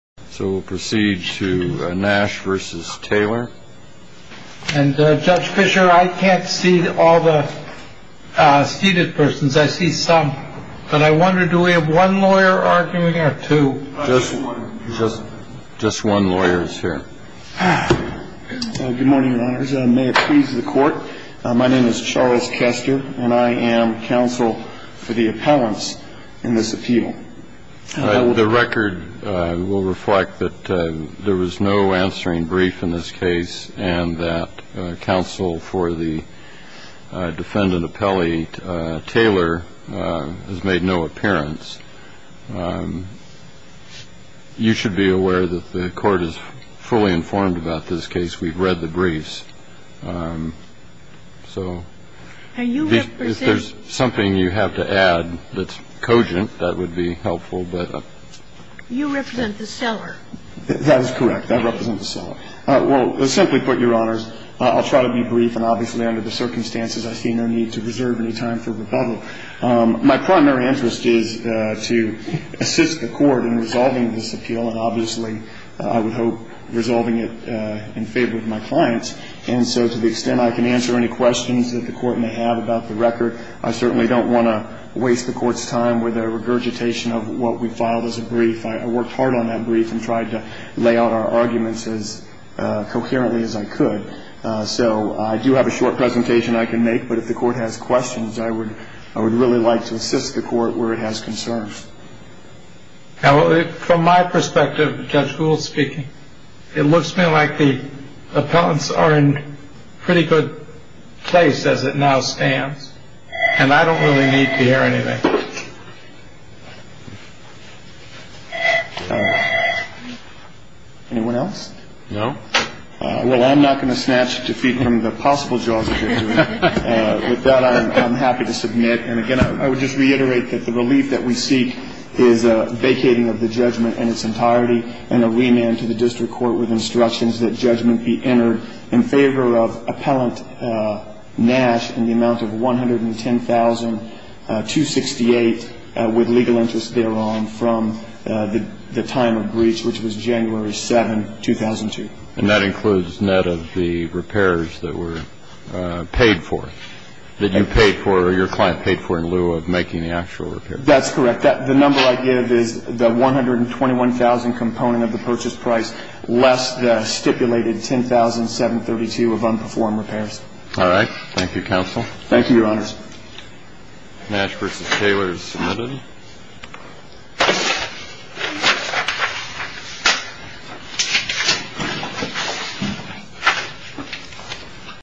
and Judge Fisher, I can't see all the seated persons. I see some. But I wonder, do we have one lawyer arguing or two? Just one lawyer is here. Good morning, Your Honors. May it please the Court, my name is Charles Chester, and I am counsel for the appellants in this appeal. The record will reflect that there was no answering brief in this case and that counsel for the defendant appellee, Taylor, has made no appearance. You should be aware that the Court is fully informed about this case. We've read the briefs. So if there's something you have to add that's cogent, that would be helpful. You represent the seller. That is correct. I represent the seller. Well, simply put, Your Honors, I'll try to be brief, and obviously under the circumstances I see no need to reserve any time for rebuttal. My primary interest is to assist the Court in resolving this appeal, and obviously I would hope resolving it in favor of my clients. And so to the extent I can answer any questions that the Court may have about the record, I certainly don't want to waste the Court's time with a regurgitation of what we filed as a brief. I worked hard on that brief and tried to lay out our arguments as coherently as I could. So I do have a short presentation I can make, but if the Court has questions, I would really like to assist the Court where it has concerns. From my perspective, Judge Gould speaking, it looks to me like the appellants are in pretty good place as it now stands, and I don't really need to hear anything. Anyone else? No. Well, I'm not going to snatch defeat from the possible jaws of your jury. With that, I'm happy to submit. And again, I would just reiterate that the relief that we seek is a vacating of the judgment in its entirety and a remand to the district court with instructions that judgment be entered in favor of appellant Nash in the amount of $110,268 with legal interest thereon from the time of breach, which was January 7, 2002. And that includes net of the repairs that were paid for, that you paid for or your client paid for in lieu of making the actual repairs. That's correct. The number I give is the $121,000 component of the purchase price less the stipulated $10,732 of unperformed repairs. All right. Thank you, counsel. Thank you, Your Honors. Nash versus Taylor is submitted.